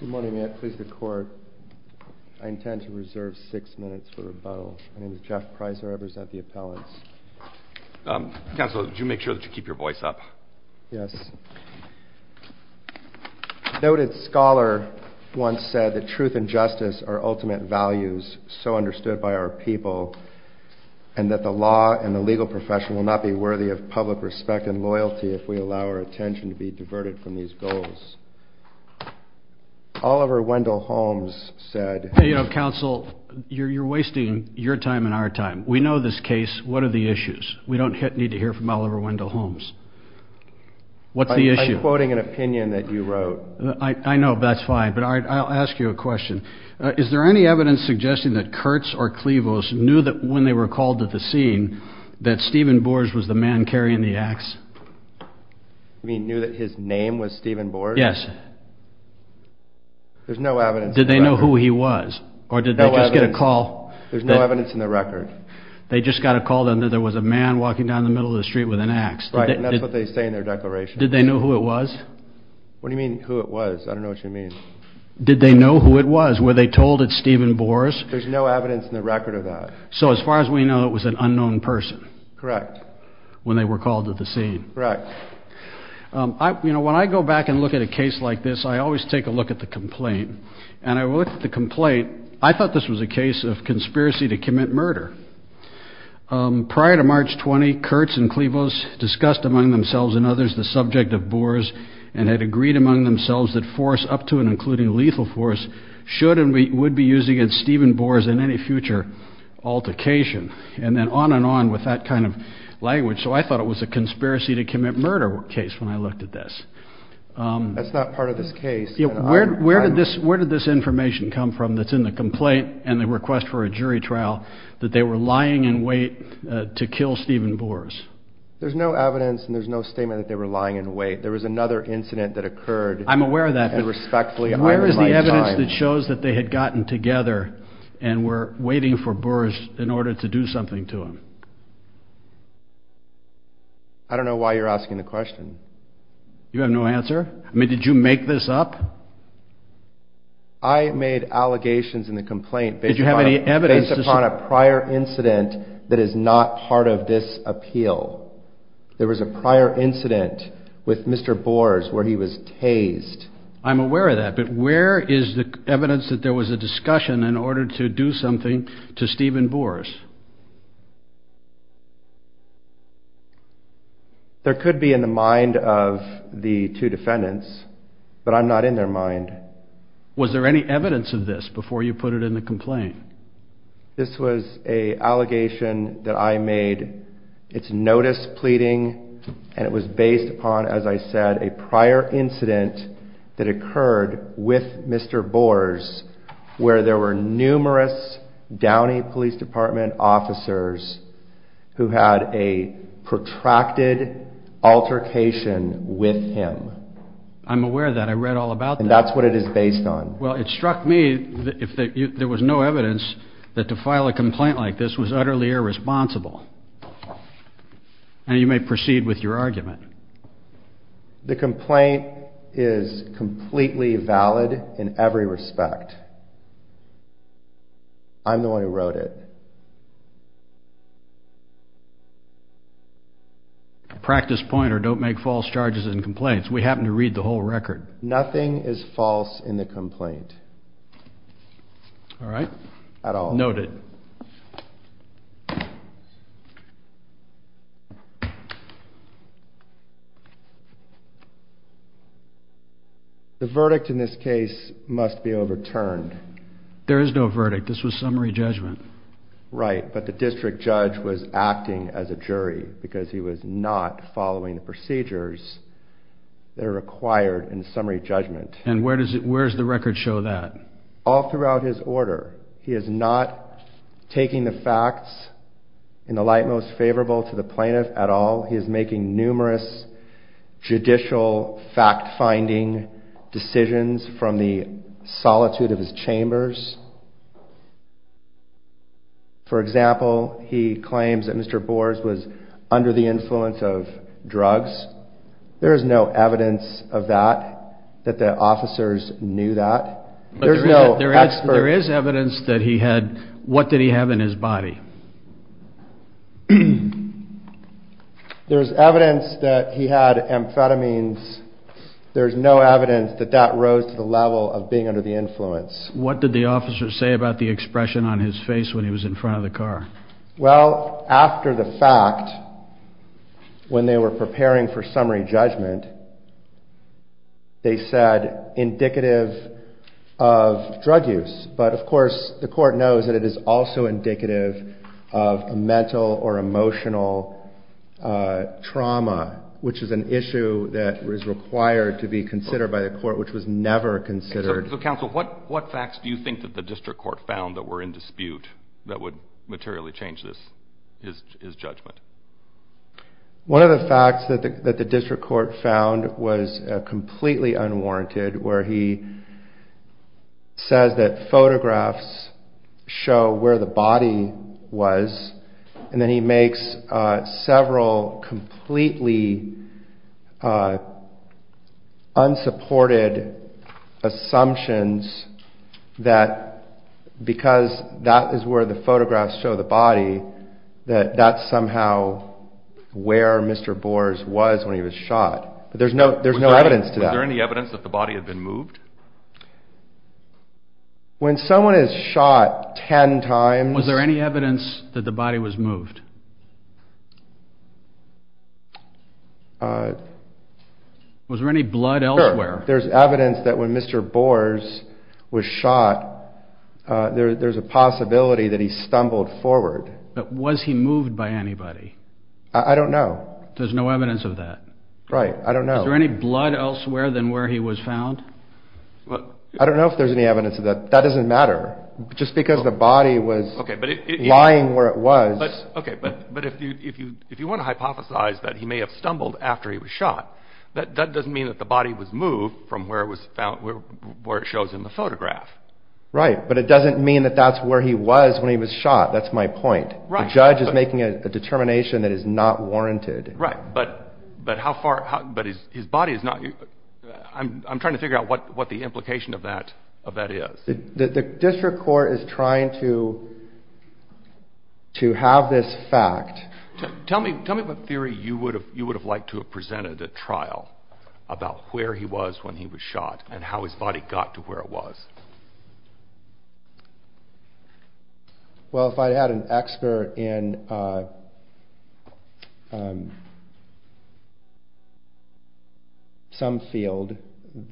Good morning. May I please the court? I intend to reserve six minutes for rebuttal. My name is Jeff Pricer. I represent the appellants. Counsel, would you make sure that you keep your voice up? Yes. A noted scholar once said that truth and justice are ultimate values so understood by our people, and that the law and the legal profession will not be worthy of public respect and loyalty if we allow our attention to be diverted from these goals. Oliver Wendell Holmes said... Counsel, you're wasting your time and our time. We know this case. What are the issues? We don't need to hear from Oliver Wendell Holmes. What's the issue? I'm quoting an opinion that you wrote. I know. That's fine. But I'll ask you a question. Is there any evidence suggesting that Kurtz or Clevos knew that when they were called to the scene that Stephen Borge was the man carrying the axe? You mean knew that his name was Stephen Borge? Yes. There's no evidence. Did they know who he was? Or did they just get a call? There's no evidence in the record. They just got a call that there was a man walking down the middle of the street with an axe. Right. And that's what they say in their declaration. Did they know who it was? What do you mean who it was? I don't know what you mean. Did they know who it was? Were they told it's Stephen Borge? There's no evidence in the record of that. So as far as we know, it was an unknown person. Correct. When they were called to the scene. Correct. You know, when I go back and look at a case like this, I always take a look at the complaint. And I looked at the complaint, I thought this was a case of conspiracy to commit murder. Prior to March 20, Kurtz and Clevos discussed among themselves and others the subject of Borge and had agreed among themselves that force up to and including lethal force should and would be used against Stephen Borge in any future altercation. And then on and on with that kind of language. So I thought it was a conspiracy to commit murder case when I looked at this. That's not part of this case. Where did this where did this information come from that's in the complaint and the request for a jury trial that they were lying in wait to kill Stephen Borge? There's no evidence and there's no statement that they were lying in wait. There was another incident that occurred. I'm aware of that. Respectfully. Where is the evidence that shows that they had gotten together and were waiting for Borge in order to do something to him? I don't know why you're asking the question. You have no answer. I mean, did you make this up? I made allegations in the complaint. Did you have any evidence? Based upon a prior incident that is not part of this appeal. There was a prior incident with Mr. Borge where he was tased. I'm aware of that. But where is the evidence that there was a discussion in order to do something to Stephen Borge? There could be in the mind of the two defendants, but I'm not in their mind. Was there any evidence of this before you put it in the complaint? This was a allegation that I made. It's notice pleading and it was based upon, as I said, a prior incident that occurred with Mr. Borge where there were numerous Downey Police Department officers who had a protracted altercation with him. I'm aware of that. I read all about that. And that's what it is based on. Well, it struck me that if there was no evidence that to file a complaint like this was utterly irresponsible. And you may proceed with your argument. The complaint is completely valid in every respect. I'm the one who wrote it. Practice point or don't make false charges and complaints. We happen to read the whole record. Nothing is false in the complaint. All right. Noted. The verdict in this case must be overturned. There is no verdict. This was summary judgment. Right. But the district judge was acting as a jury because he was not following the procedures that are required in summary judgment. And where does it where's the record show that all throughout his order? He is not taking the facts in the light most favorable to the plaintiff at all. He is making numerous judicial fact finding decisions from the solitude of his chambers. For example, he claims that Mr. Boers was under the influence of drugs. There is no evidence of that, that the officers knew that. There's no. There is. There is evidence that he had. What did he have in his body? There is evidence that he had amphetamines. There is no evidence that that rose to the level of being under the influence. What did the officer say about the expression on his face when he was in front of the car? Well, after the fact, when they were preparing for summary judgment, they said indicative of drug use. But, of course, the court knows that it is also indicative of a mental or emotional trauma, which is an issue that is required to be considered by the court, which was never considered. So, counsel, what facts do you think that the district court found that were in dispute that would materially change his judgment? One of the facts that the district court found was completely unwarranted, where he says that photographs show where the body was, and then he makes several completely unsupported assumptions that because that is where the photographs show the body, that that's somehow where Mr. Bors was when he was shot. But there's no evidence to that. Was there any evidence that the body had been moved? When someone is shot ten times. Was there any evidence that the body was moved? Was there any blood elsewhere? There's evidence that when Mr. Bors was shot, there's a possibility that he stumbled forward. Was he moved by anybody? I don't know. There's no evidence of that? Right. I don't know. Is there any blood elsewhere than where he was found? I don't know if there's any evidence of that. That doesn't matter. Just because the body was lying where it was. Okay, but if you want to hypothesize that he may have stumbled after he was shot, that doesn't mean that the body was moved from where it shows in the photograph. Right, but it doesn't mean that that's where he was when he was shot. That's my point. The judge is making a determination that is not warranted. Right, but his body is not. I'm trying to figure out what the implication of that is. The district court is trying to have this fact. Tell me what theory you would have liked to have presented at trial about where he was when he was shot and how his body got to where it was. Well, if I had an expert in some field,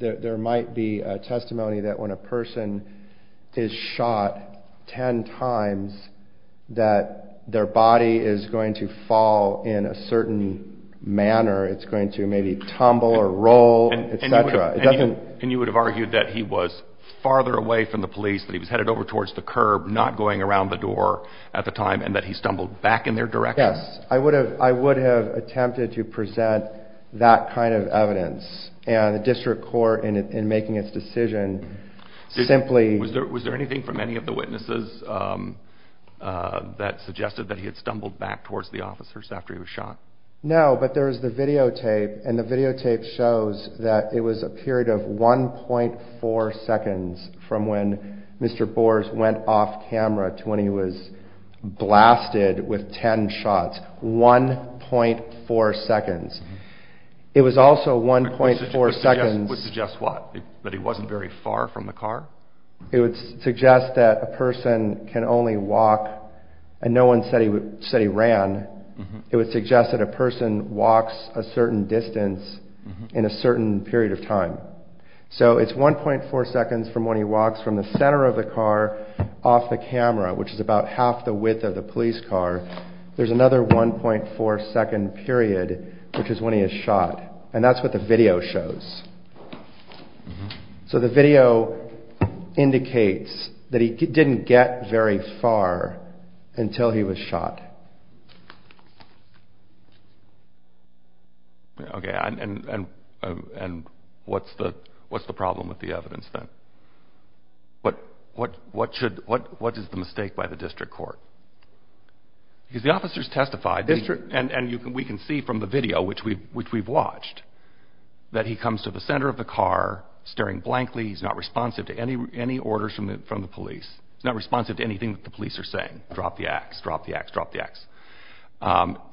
there might be a testimony that when a person is shot ten times that their body is going to fall in a certain manner. It's going to maybe tumble or roll, etc. And you would have argued that he was farther away from the police, that he was headed over towards the curb, not going around the door at the time, and that he stumbled back in their direction? Yes, I would have attempted to present that kind of evidence, and the district court in making its decision simply… Was there anything from any of the witnesses that suggested that he had stumbled back towards the officers after he was shot? No, but there was the videotape, and the videotape shows that it was a period of 1.4 seconds from when Mr. Bors went off camera to when he was blasted with ten shots. 1.4 seconds. It was also 1.4 seconds… It would suggest what? That he wasn't very far from the car? It would suggest that a person can only walk, and no one said he ran. It would suggest that a person walks a certain distance in a certain period of time. So it's 1.4 seconds from when he walks from the center of the car off the camera, which is about half the width of the police car. There's another 1.4 second period, which is when he is shot, and that's what the video shows. So the video indicates that he didn't get very far until he was shot. Okay, and what's the problem with the evidence then? What is the mistake by the district court? Because the officers testified, and we can see from the video, which we've watched, that he comes to the center of the car staring blankly. He's not responsive to any orders from the police. He's not responsive to anything that the police are saying. Drop the axe, drop the axe, drop the axe.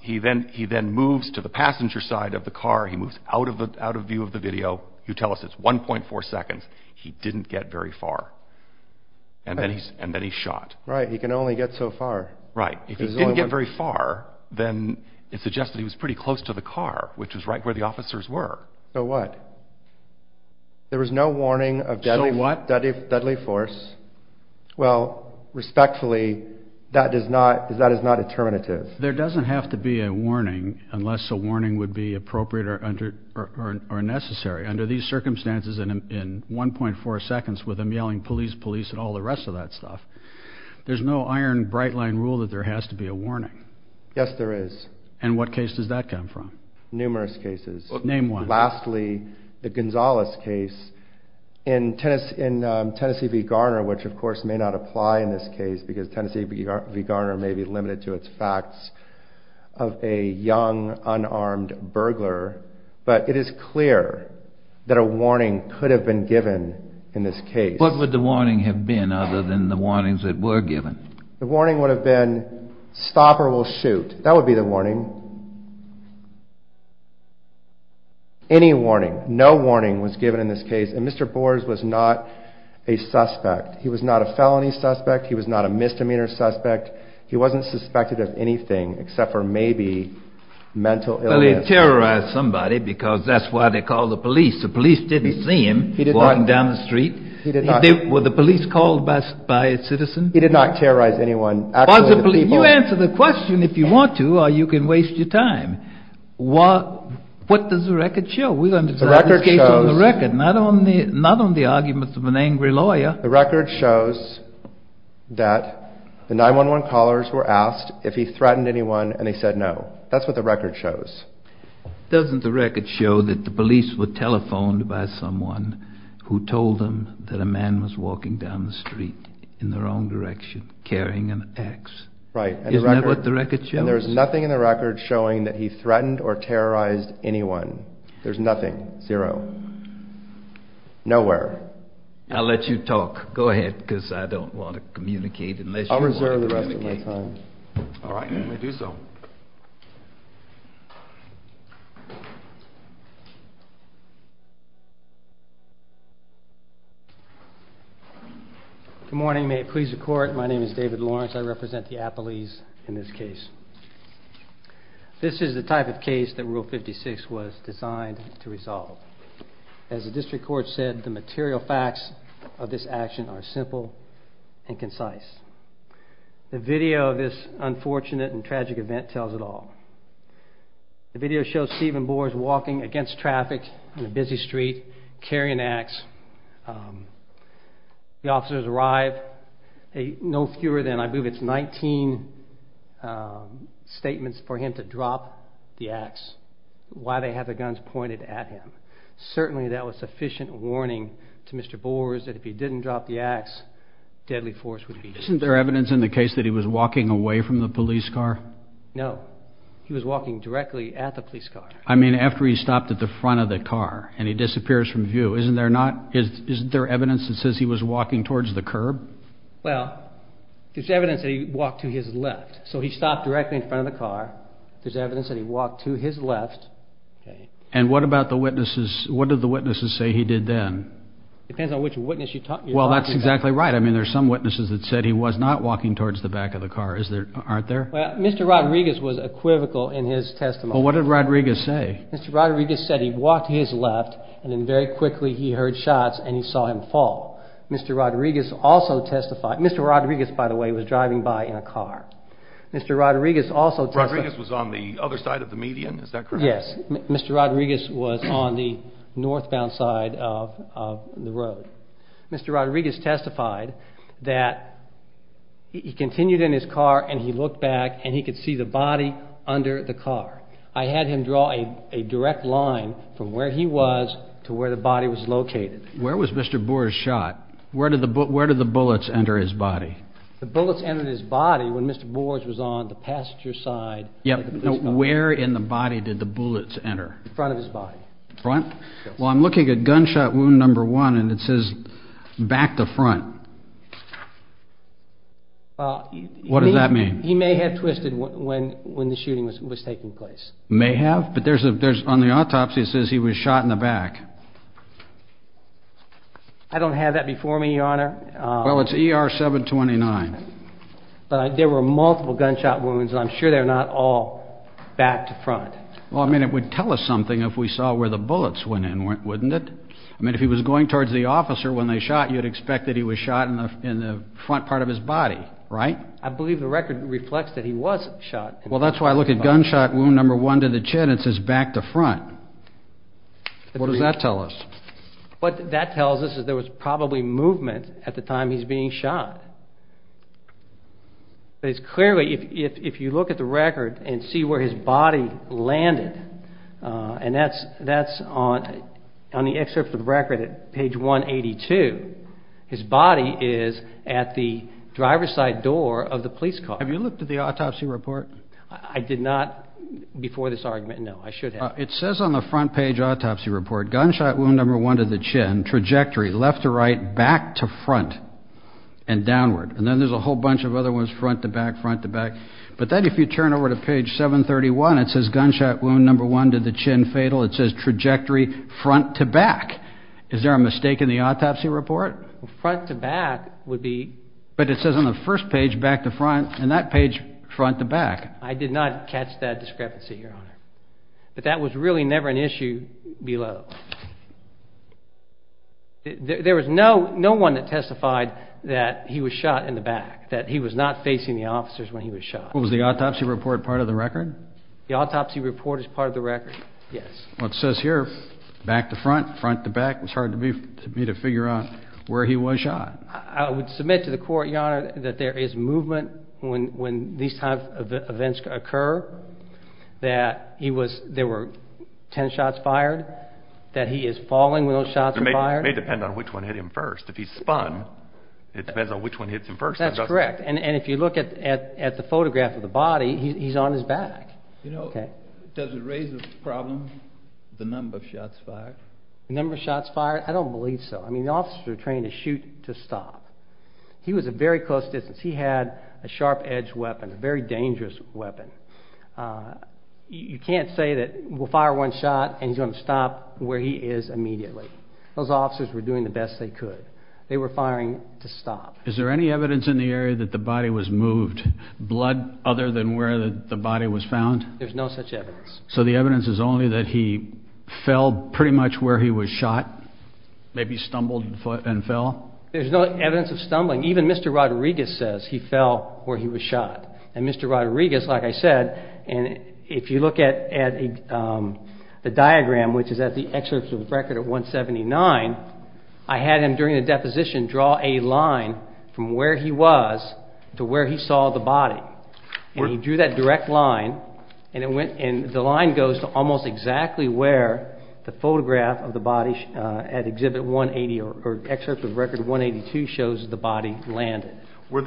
He then moves to the passenger side of the car. He moves out of view of the video. You tell us it's 1.4 seconds. He didn't get very far, and then he's shot. Right. He can only get so far. Right. If he didn't get very far, then it suggests that he was pretty close to the car, which was right where the officers were. So what? There was no warning of deadly force. Well, respectfully, that is not a determinative. There doesn't have to be a warning unless a warning would be appropriate or necessary. Under these circumstances, in 1.4 seconds, with them yelling police, police, and all the rest of that stuff, there's no iron bright line rule that there has to be a warning. Yes, there is. And what case does that come from? Numerous cases. Name one. And lastly, the Gonzales case in Tennessee v. Garner, which of course may not apply in this case because Tennessee v. Garner may be limited to its facts of a young, unarmed burglar. But it is clear that a warning could have been given in this case. What would the warning have been other than the warnings that were given? The warning would have been stop or we'll shoot. That would be the warning. Any warning. No warning was given in this case. And Mr. Boers was not a suspect. He was not a felony suspect. He was not a misdemeanor suspect. He wasn't suspected of anything except for maybe mental illness. Well, he terrorized somebody because that's why they called the police. The police didn't see him walking down the street. He did not. Were the police called by a citizen? He did not terrorize anyone. You answer the question if you want to or you can waste your time. What does the record show? We're going to discuss this case on the record, not on the arguments of an angry lawyer. The record shows that the 911 callers were asked if he threatened anyone and he said no. That's what the record shows. Doesn't the record show that the police were telephoned by someone who told them that a man was walking down the street in the wrong direction carrying an axe? Right. Isn't that what the record shows? And there's nothing in the record showing that he threatened or terrorized anyone. There's nothing. Zero. Nowhere. I'll let you talk. Go ahead because I don't want to communicate unless you want to communicate. I'll reserve the rest of my time. All right. Let me do so. Good morning. May it please the Court, my name is David Lawrence. I represent the Appalachians in this case. This is the type of case that Rule 56 was designed to resolve. As the District Court said, the material facts of this action are simple and concise. The video of this unfortunate and tragic event tells it all. The video shows Stephen Boers walking against traffic on a busy street carrying an axe. The officers arrive. No fewer than, I believe it's 19, statements for him to drop the axe while they have the guns pointed at him. Certainly that was sufficient warning to Mr. Boers that if he didn't drop the axe, deadly force would be used. Isn't there evidence in the case that he was walking away from the police car? No. He was walking directly at the police car. I mean after he stopped at the front of the car and he disappears from view. Isn't there evidence that says he was walking towards the curb? Well, there's evidence that he walked to his left. So he stopped directly in front of the car. There's evidence that he walked to his left. And what about the witnesses? What did the witnesses say he did then? It depends on which witness you're talking about. Well, that's exactly right. I mean there's some witnesses that said he was not walking towards the back of the car. Aren't there? Mr. Rodriguez was equivocal in his testimony. Well, what did Rodriguez say? Mr. Rodriguez said he walked to his left and then very quickly he heard shots and he saw him fall. Mr. Rodriguez also testified. Mr. Rodriguez, by the way, was driving by in a car. Mr. Rodriguez also testified. Rodriguez was on the other side of the median, is that correct? Yes. Mr. Rodriguez was on the northbound side of the road. Mr. Rodriguez testified that he continued in his car and he looked back and he could see the body under the car. I had him draw a direct line from where he was to where the body was located. Where was Mr. Boers shot? Where did the bullets enter his body? The bullets entered his body when Mr. Boers was on the passenger side. Where in the body did the bullets enter? The front of his body. The front? Well, I'm looking at gunshot wound number one and it says back to front. What does that mean? He may have twisted when the shooting was taking place. May have? But on the autopsy it says he was shot in the back. I don't have that before me, Your Honor. Well, it's ER 729. But there were multiple gunshot wounds and I'm sure they're not all back to front. Well, I mean, it would tell us something if we saw where the bullets went in, wouldn't it? I mean, if he was going towards the officer when they shot, you'd expect that he was shot in the front part of his body, right? I believe the record reflects that he was shot. Well, that's why I look at gunshot wound number one to the chin and it says back to front. What does that tell us? What that tells us is there was probably movement at the time he's being shot. Clearly, if you look at the record and see where his body landed, and that's on the excerpt of the record at page 182, his body is at the driver's side door of the police car. Have you looked at the autopsy report? I did not before this argument. No, I should have. It says on the front page autopsy report, gunshot wound number one to the chin, trajectory left to right, back to front and downward. And then there's a whole bunch of other ones front to back, front to back. But then if you turn over to page 731, it says gunshot wound number one to the chin fatal. It says trajectory front to back. Is there a mistake in the autopsy report? Front to back would be. But it says on the first page back to front and that page front to back. I did not catch that discrepancy, Your Honor. But that was really never an issue below. There was no one that testified that he was shot in the back, that he was not facing the officers when he was shot. Was the autopsy report part of the record? The autopsy report is part of the record, yes. Well, it says here back to front, front to back. It was hard for me to figure out where he was shot. I would submit to the court, Your Honor, that there is movement when these types of events occur, that there were 10 shots fired, that he is falling when those shots are fired. It may depend on which one hit him first. If he's spun, it depends on which one hits him first. That's correct. And if you look at the photograph of the body, he's on his back. You know, does it raise the problem, the number of shots fired? The number of shots fired? I don't believe so. I mean, the officers were trained to shoot to stop. He was at very close distance. He had a sharp-edged weapon, a very dangerous weapon. You can't say that we'll fire one shot and he's going to stop where he is immediately. Those officers were doing the best they could. They were firing to stop. Is there any evidence in the area that the body was moved, blood other than where the body was found? There's no such evidence. So the evidence is only that he fell pretty much where he was shot, maybe stumbled and fell? There's no evidence of stumbling. Even Mr. Rodriguez says he fell where he was shot. And Mr. Rodriguez, like I said, and if you look at the diagram, which is at the excerpt of the record at 179, I had him during the deposition draw a line from where he was to where he saw the body. And he drew that direct line and the line goes to almost exactly where the photograph of the body at Exhibit 180 or excerpt of Record 182 shows the body land. Where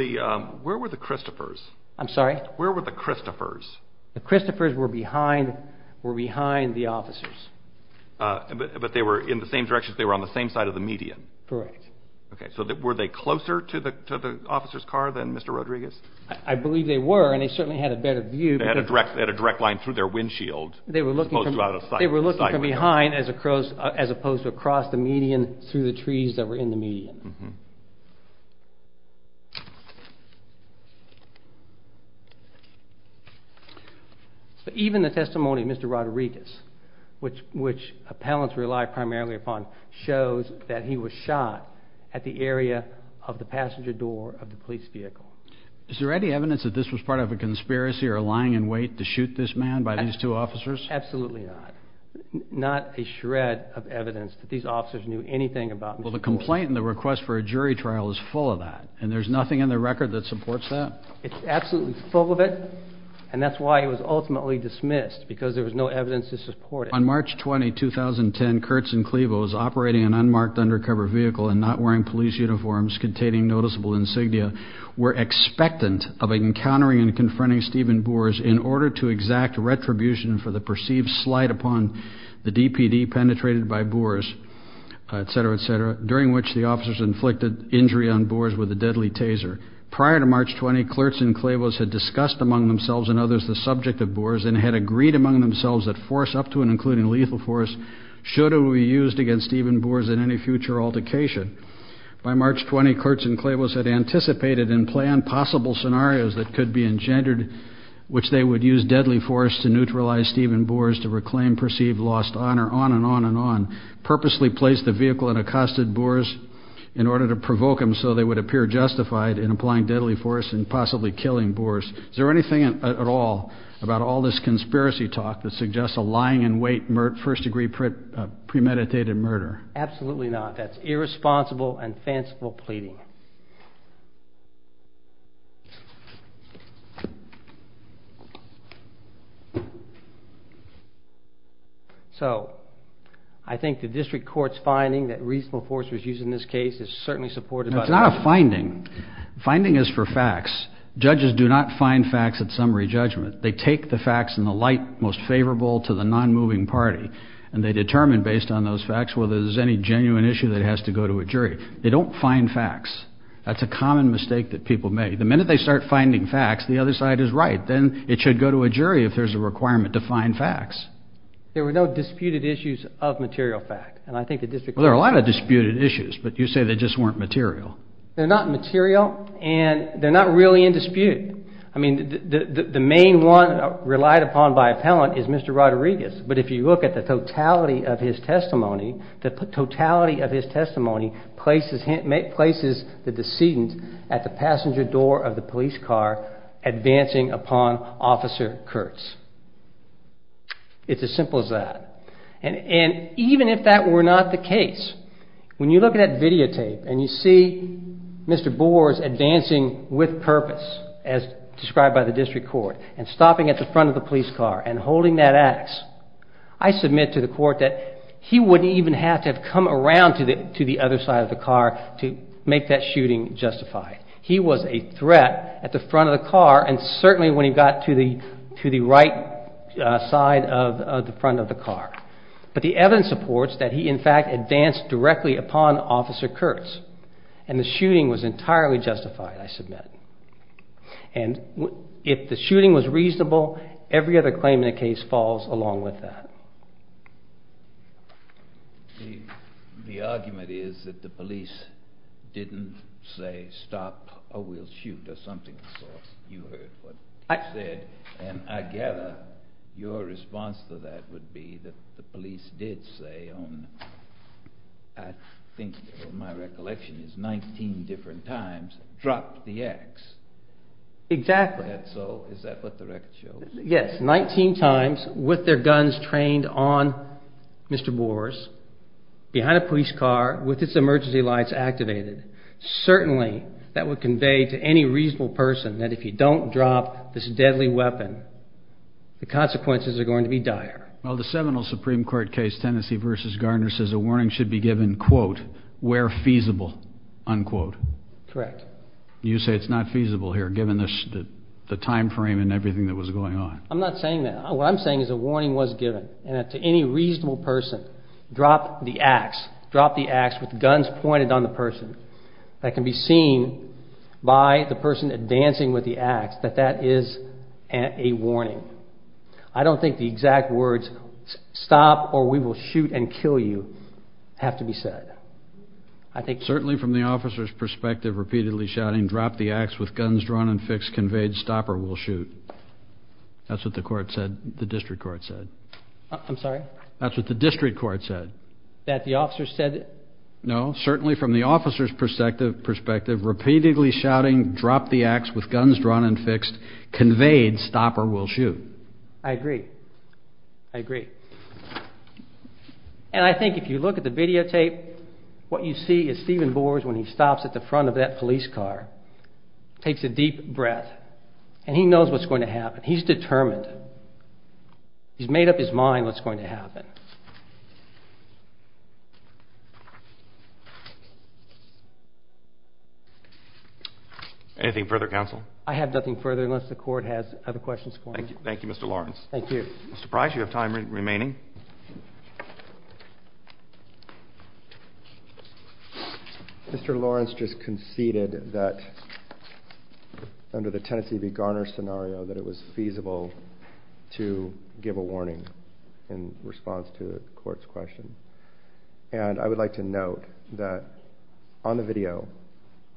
were the Christophers? I'm sorry? Where were the Christophers? The Christophers were behind the officers. But they were in the same direction? They were on the same side of the median? Correct. Okay. So were they closer to the officer's car than Mr. Rodriguez? I believe they were and they certainly had a better view. They had a direct line through their windshield as opposed to out of sight. They were looking from behind as opposed to across the median through the trees that were in the median. But even the testimony of Mr. Rodriguez, which appellants rely primarily upon, shows that he was shot at the area of the passenger door of the police vehicle. Is there any evidence that this was part of a conspiracy or lying in wait to shoot this man by these two officers? Absolutely not. Not a shred of evidence that these officers knew anything about Mr. Ford. Well, the complaint and the request for a jury trial is full of that. And there's nothing in the record that supports that? It's absolutely full of it. And that's why he was ultimately dismissed because there was no evidence to support it. On March 20, 2010, Kurtz and Clevos, operating an unmarked undercover vehicle and not wearing police uniforms containing noticeable insignia, were expectant of encountering and confronting Stephen Boers in order to exact retribution for the perceived slight upon the DPD penetrated by Boers, et cetera, et cetera, during which the officers inflicted injury on Boers with a deadly taser. Prior to March 20, Kurtz and Clevos had discussed among themselves and others the subject of Boers and had agreed among themselves that force up to and including lethal force should it be used against Stephen Boers in any future altercation. By March 20, Kurtz and Clevos had anticipated and planned possible scenarios that could be engendered which they would use deadly force to neutralize Stephen Boers to reclaim perceived lost honor, on and on and on, purposely placed the vehicle and accosted Boers in order to provoke him so they would appear justified in applying deadly force and possibly killing Boers. Is there anything at all about all this conspiracy talk that suggests a lying in wait, first degree premeditated murder? Absolutely not. That's irresponsible and fanciful pleading. So I think the district court's finding that reasonable force was used in this case is certainly supportive. That's not a finding. Finding is for facts. Judges do not find facts at summary judgment. They take the facts in the light most favorable to the non-moving party and they determine based on those facts whether there's any genuine issue that has to go to a jury. They don't find facts. That's a common mistake that people make. The minute they start finding facts, the other side is right. Then it should go to a jury if there's a requirement to find facts. There were no disputed issues of material fact and I think the district court says that. Well, there are a lot of disputed issues, but you say they just weren't material. They're not material and they're not really in dispute. The main one relied upon by appellant is Mr. Rodriguez, but if you look at the totality of his testimony, the totality of his testimony places the decedent at the passenger door of the police car advancing upon Officer Kurtz. It's as simple as that. And even if that were not the case, when you look at that videotape and you see Mr. Boers advancing with purpose as described by the district court and stopping at the front of the police car and holding that ax, I submit to the court that he wouldn't even have to have come around to the other side of the car to make that shooting justified. He was a threat at the front of the car and certainly when he got to the right side of the front of the car. But the evidence supports that he in fact advanced directly upon Officer Kurtz and the shooting was entirely justified, I submit. And if the shooting was reasonable, every other claim in the case falls along with that. The argument is that the police didn't say stop or we'll shoot or something. You heard what I said and I gather your response to that would be that the police did say, I think my recollection is 19 different times, drop the ax. Exactly. So is that what the record shows? Yes, 19 times with their guns trained on Mr. Boers behind a police car with its emergency lights activated. Certainly that would convey to any reasonable person that if you don't drop this deadly weapon, the consequences are going to be dire. Well, the seminal Supreme Court case, Tennessee v. Gardner, says a warning should be given, quote, where feasible, unquote. Correct. You say it's not feasible here given the time frame and everything that was going on. I'm not saying that. What I'm saying is a warning was given and that to any reasonable person, drop the ax, drop the ax with guns pointed on the person. That can be seen by the person advancing with the ax that that is a warning. I don't think the exact words stop or we will shoot and kill you have to be said. Certainly from the officer's perspective, repeatedly shouting drop the ax with guns drawn and fixed, conveyed stop or we'll shoot. That's what the court said, the district court said. I'm sorry? That's what the district court said. That the officer said? No, certainly from the officer's perspective, repeatedly shouting drop the ax with guns drawn and fixed, conveyed stop or we'll shoot. I agree. I agree. And I think if you look at the videotape, what you see is Stephen Boers when he stops at the front of that police car, takes a deep breath, and he knows what's going to happen. He's determined. He's made up his mind what's going to happen. Anything further, counsel? I have nothing further unless the court has other questions for me. Thank you, Mr. Lawrence. Thank you. Mr. Price, you have time remaining. Mr. Lawrence just conceded that under the Tennessee v. Garner scenario that it was feasible to give a warning in response to a court's question. And I would like to note that on the video,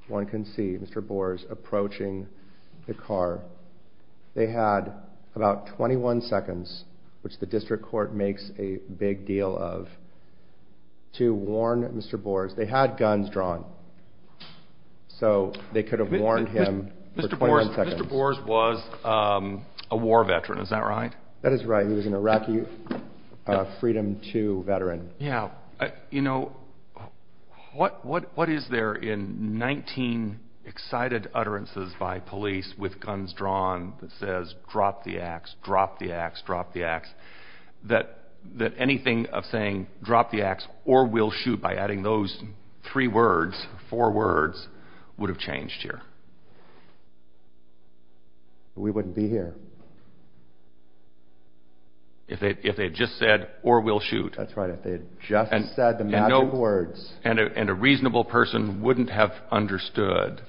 one can see Mr. Boers approaching the car. They had about 21 seconds, which the district court makes a big deal of, to warn Mr. Boers. They had guns drawn, so they could have warned him for 21 seconds. Mr. Boers was a war veteran, is that right? That is right. He was an Iraqi Freedom II veteran. Yeah. You know, what is there in 19 excited utterances by police with guns drawn that says drop the ax, drop the ax, drop the ax, that anything of saying drop the ax or we'll shoot by adding those three words, four words, would have changed here? We wouldn't be here. If they had just said or we'll shoot? That's right. If they had just said the magic words. And a reasonable person wouldn't have understood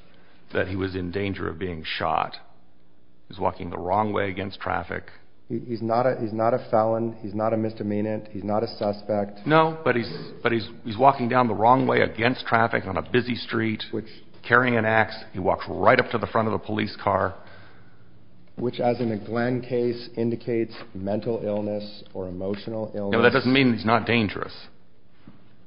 that he was in danger of being shot. He was walking the wrong way against traffic. He's not a felon. He's not a misdemeanant. He's not a suspect. No, but he's walking down the wrong way against traffic on a busy street, carrying an ax. He walks right up to the front of the police car. Which, as in the Glenn case, indicates mental illness or emotional illness. Well, that doesn't mean he's not dangerous.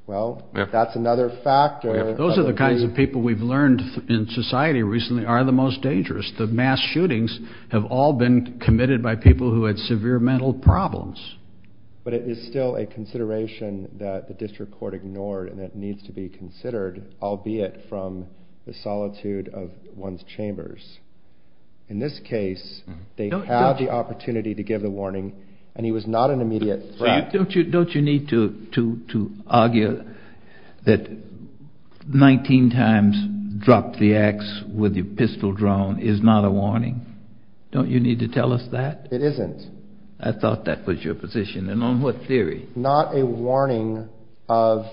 Well, that's another factor. Those are the kinds of people we've learned in society recently are the most dangerous. The mass shootings have all been committed by people who had severe mental problems. But it is still a consideration that the district court ignored and that needs to be considered, albeit from the solitude of one's chambers. In this case, they had the opportunity to give the warning, and he was not an immediate threat. Don't you need to argue that 19 times drop the ax with your pistol drawn is not a warning? Don't you need to tell us that? It isn't. I thought that was your position. And on what theory? Not a warning of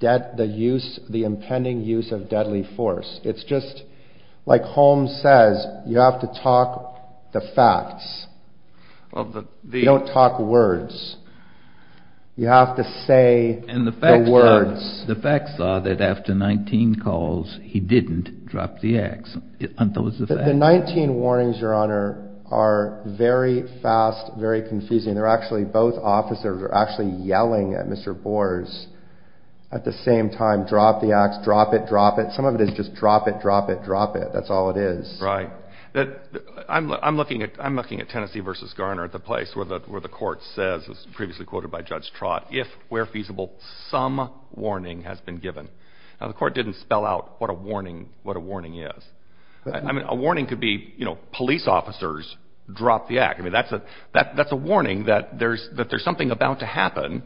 the impending use of deadly force. It's just like Holmes says, you have to talk the facts. You don't talk words. You have to say the words. The facts are that after 19 calls, he didn't drop the ax. The 19 warnings, Your Honor, are very fast, very confusing. They're actually, both officers are actually yelling at Mr. Bors at the same time, drop the ax, drop it, drop it. Some of it is just drop it, drop it, drop it. That's all it is. Right. I'm looking at Tennessee v. Garner at the place where the court says, as previously quoted by Judge Trott, if where feasible, some warning has been given. Now, the court didn't spell out what a warning is. I mean, a warning could be, you know, police officers, drop the ax. I mean, that's a warning that there's something about to happen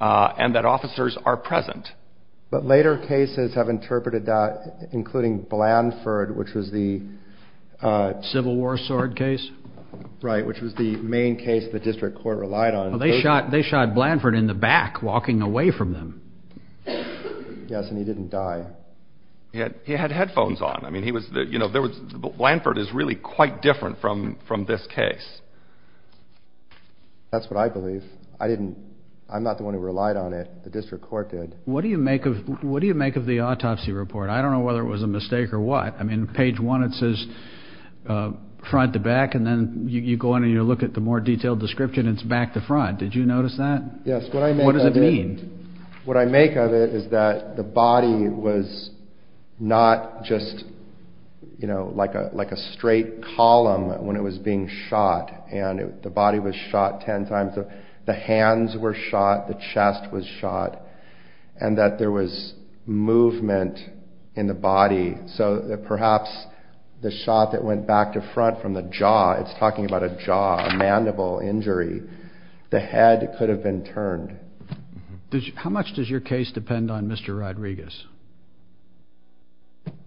and that officers are present. But later cases have interpreted that, including Blandford, which was the Civil War sword case. Right, which was the main case the district court relied on. They shot Blandford in the back walking away from them. Yes, and he didn't die. He had headphones on. I mean, he was, you know, there was, Blandford is really quite different from this case. That's what I believe. I didn't, I'm not the one who relied on it. The district court did. What do you make of the autopsy report? I don't know whether it was a mistake or what. I mean, page one, it says front to back, and then you go on and you look at the more detailed description, it's back to front. Did you notice that? Yes. What does it mean? What I make of it is that the body was not just, you know, like a straight column when it was being shot. And the body was shot ten times. The hands were shot. The chest was shot. And that there was movement in the body. So perhaps the shot that went back to front from the jaw, it's talking about a jaw, a mandible injury. The head could have been turned. How much does your case depend on Mr. Rodriguez?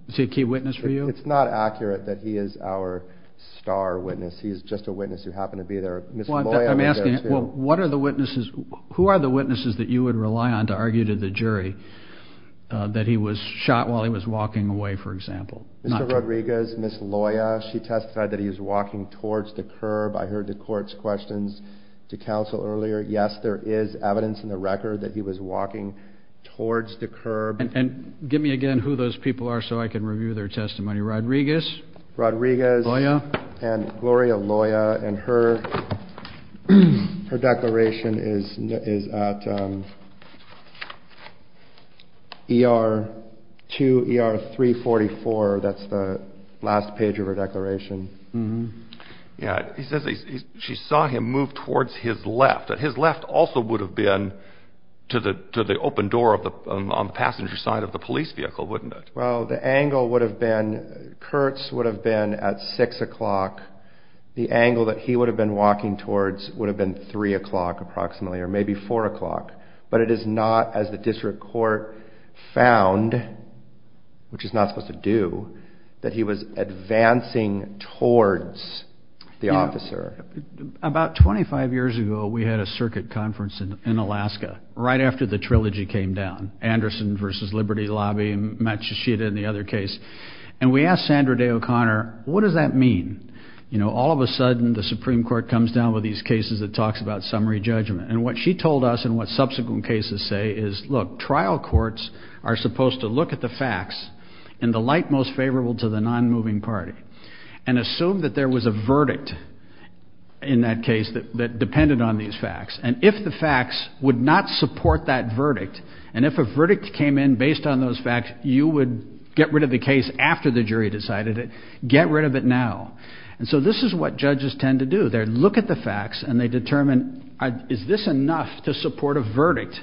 Is he a key witness for you? It's not accurate that he is our star witness. He's just a witness who happened to be there. Ms. Loya was there too. I'm asking, who are the witnesses that you would rely on to argue to the jury that he was shot while he was walking away, for example? Mr. Rodriguez, Ms. Loya, she testified that he was walking towards the curb. I heard the court's questions to counsel earlier. Yes, there is evidence in the record that he was walking towards the curb. And give me again who those people are so I can review their testimony. Rodriguez? Rodriguez. Loya? And Gloria Loya, and her declaration is at ER 2, ER 344. That's the last page of her declaration. Yeah. She saw him move towards his left. His left also would have been to the open door on the passenger side of the police vehicle, wouldn't it? Well, the angle would have been, Kurtz would have been at 6 o'clock. The angle that he would have been walking towards would have been 3 o'clock approximately, or maybe 4 o'clock. But it is not, as the district court found, which it's not supposed to do, that he was advancing towards the officer. About 25 years ago, we had a circuit conference in Alaska, right after the trilogy came down. Anderson versus Liberty Lobby and Matsushita and the other case. And we asked Sandra Day O'Connor, what does that mean? You know, all of a sudden the Supreme Court comes down with these cases that talks about summary judgment. And what she told us and what subsequent cases say is, look, trial courts are supposed to look at the facts in the light most favorable to the non-moving party. And assume that there was a verdict in that case that depended on these facts. And if the facts would not support that verdict, and if a verdict came in based on those facts, you would get rid of the case after the jury decided it, get rid of it now. And so this is what judges tend to do. They look at the facts and they determine, is this enough to support a verdict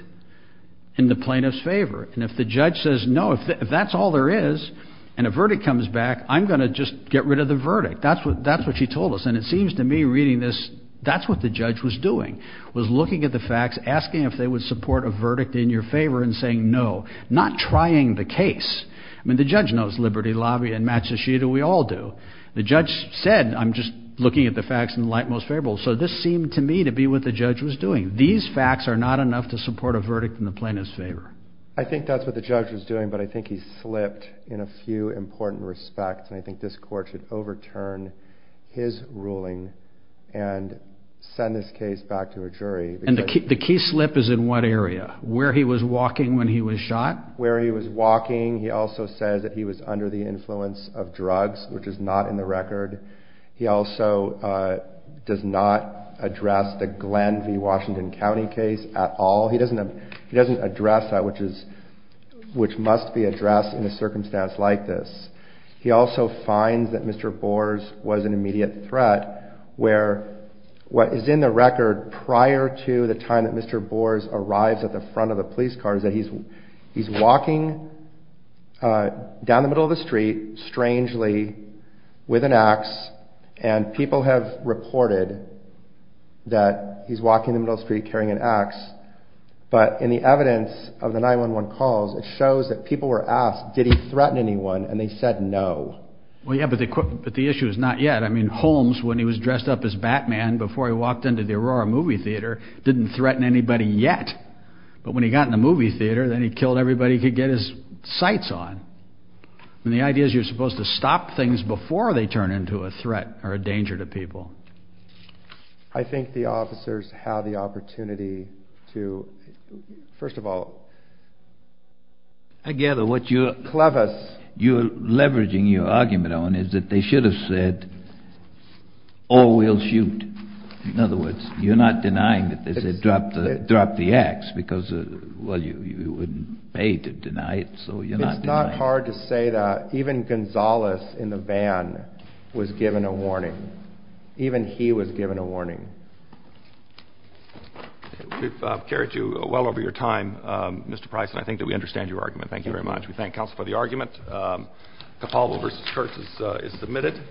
in the plaintiff's favor? And if the judge says, no, if that's all there is and a verdict comes back, I'm going to just get rid of the verdict. That's what she told us. And it seems to me reading this, that's what the judge was doing, was looking at the facts, asking if they would support a verdict in your favor and saying no, not trying the case. I mean, the judge knows Liberty Lobby and Matsushita, we all do. The judge said, I'm just looking at the facts in the light most favorable. So this seemed to me to be what the judge was doing. These facts are not enough to support a verdict in the plaintiff's favor. I think that's what the judge was doing, but I think he slipped in a few important respects. And I think this court should overturn his ruling and send this case back to a jury. And the key slip is in what area? Where he was walking when he was shot? Where he was walking. He also says that he was under the influence of drugs, which is not in the record. He also does not address the Glenn v. Washington County case at all. He doesn't address that, which must be addressed in a circumstance like this. He also finds that Mr. Boers was an immediate threat, where what is in the record prior to the time that Mr. Boers arrives at the front of the police car is that he's walking down the middle of the street, strangely, with an ax, and people have reported that he's walking the middle of the street carrying an ax. But in the evidence of the 911 calls, it shows that people were asked, did he threaten anyone, and they said no. Well, yeah, but the issue is not yet. I mean, Holmes, when he was dressed up as Batman before he walked into the Aurora movie theater, didn't threaten anybody yet. But when he got in the movie theater, then he killed everybody he could get his sights on. And the idea is you're supposed to stop things before they turn into a threat or a danger to people. I think the officers have the opportunity to, first of all, I gather what you're leveraging your argument on is that they should have said, oh, we'll shoot. In other words, you're not denying that they dropped the ax because, well, you wouldn't pay to deny it, so you're not denying it. It's not hard to say that even Gonzales in the van was given a warning. Even he was given a warning. We've carried you well over your time, Mr. Price, and I think that we understand your argument. Thank you very much. We thank counsel for the argument. Capalvo v. Kurtz is submitted.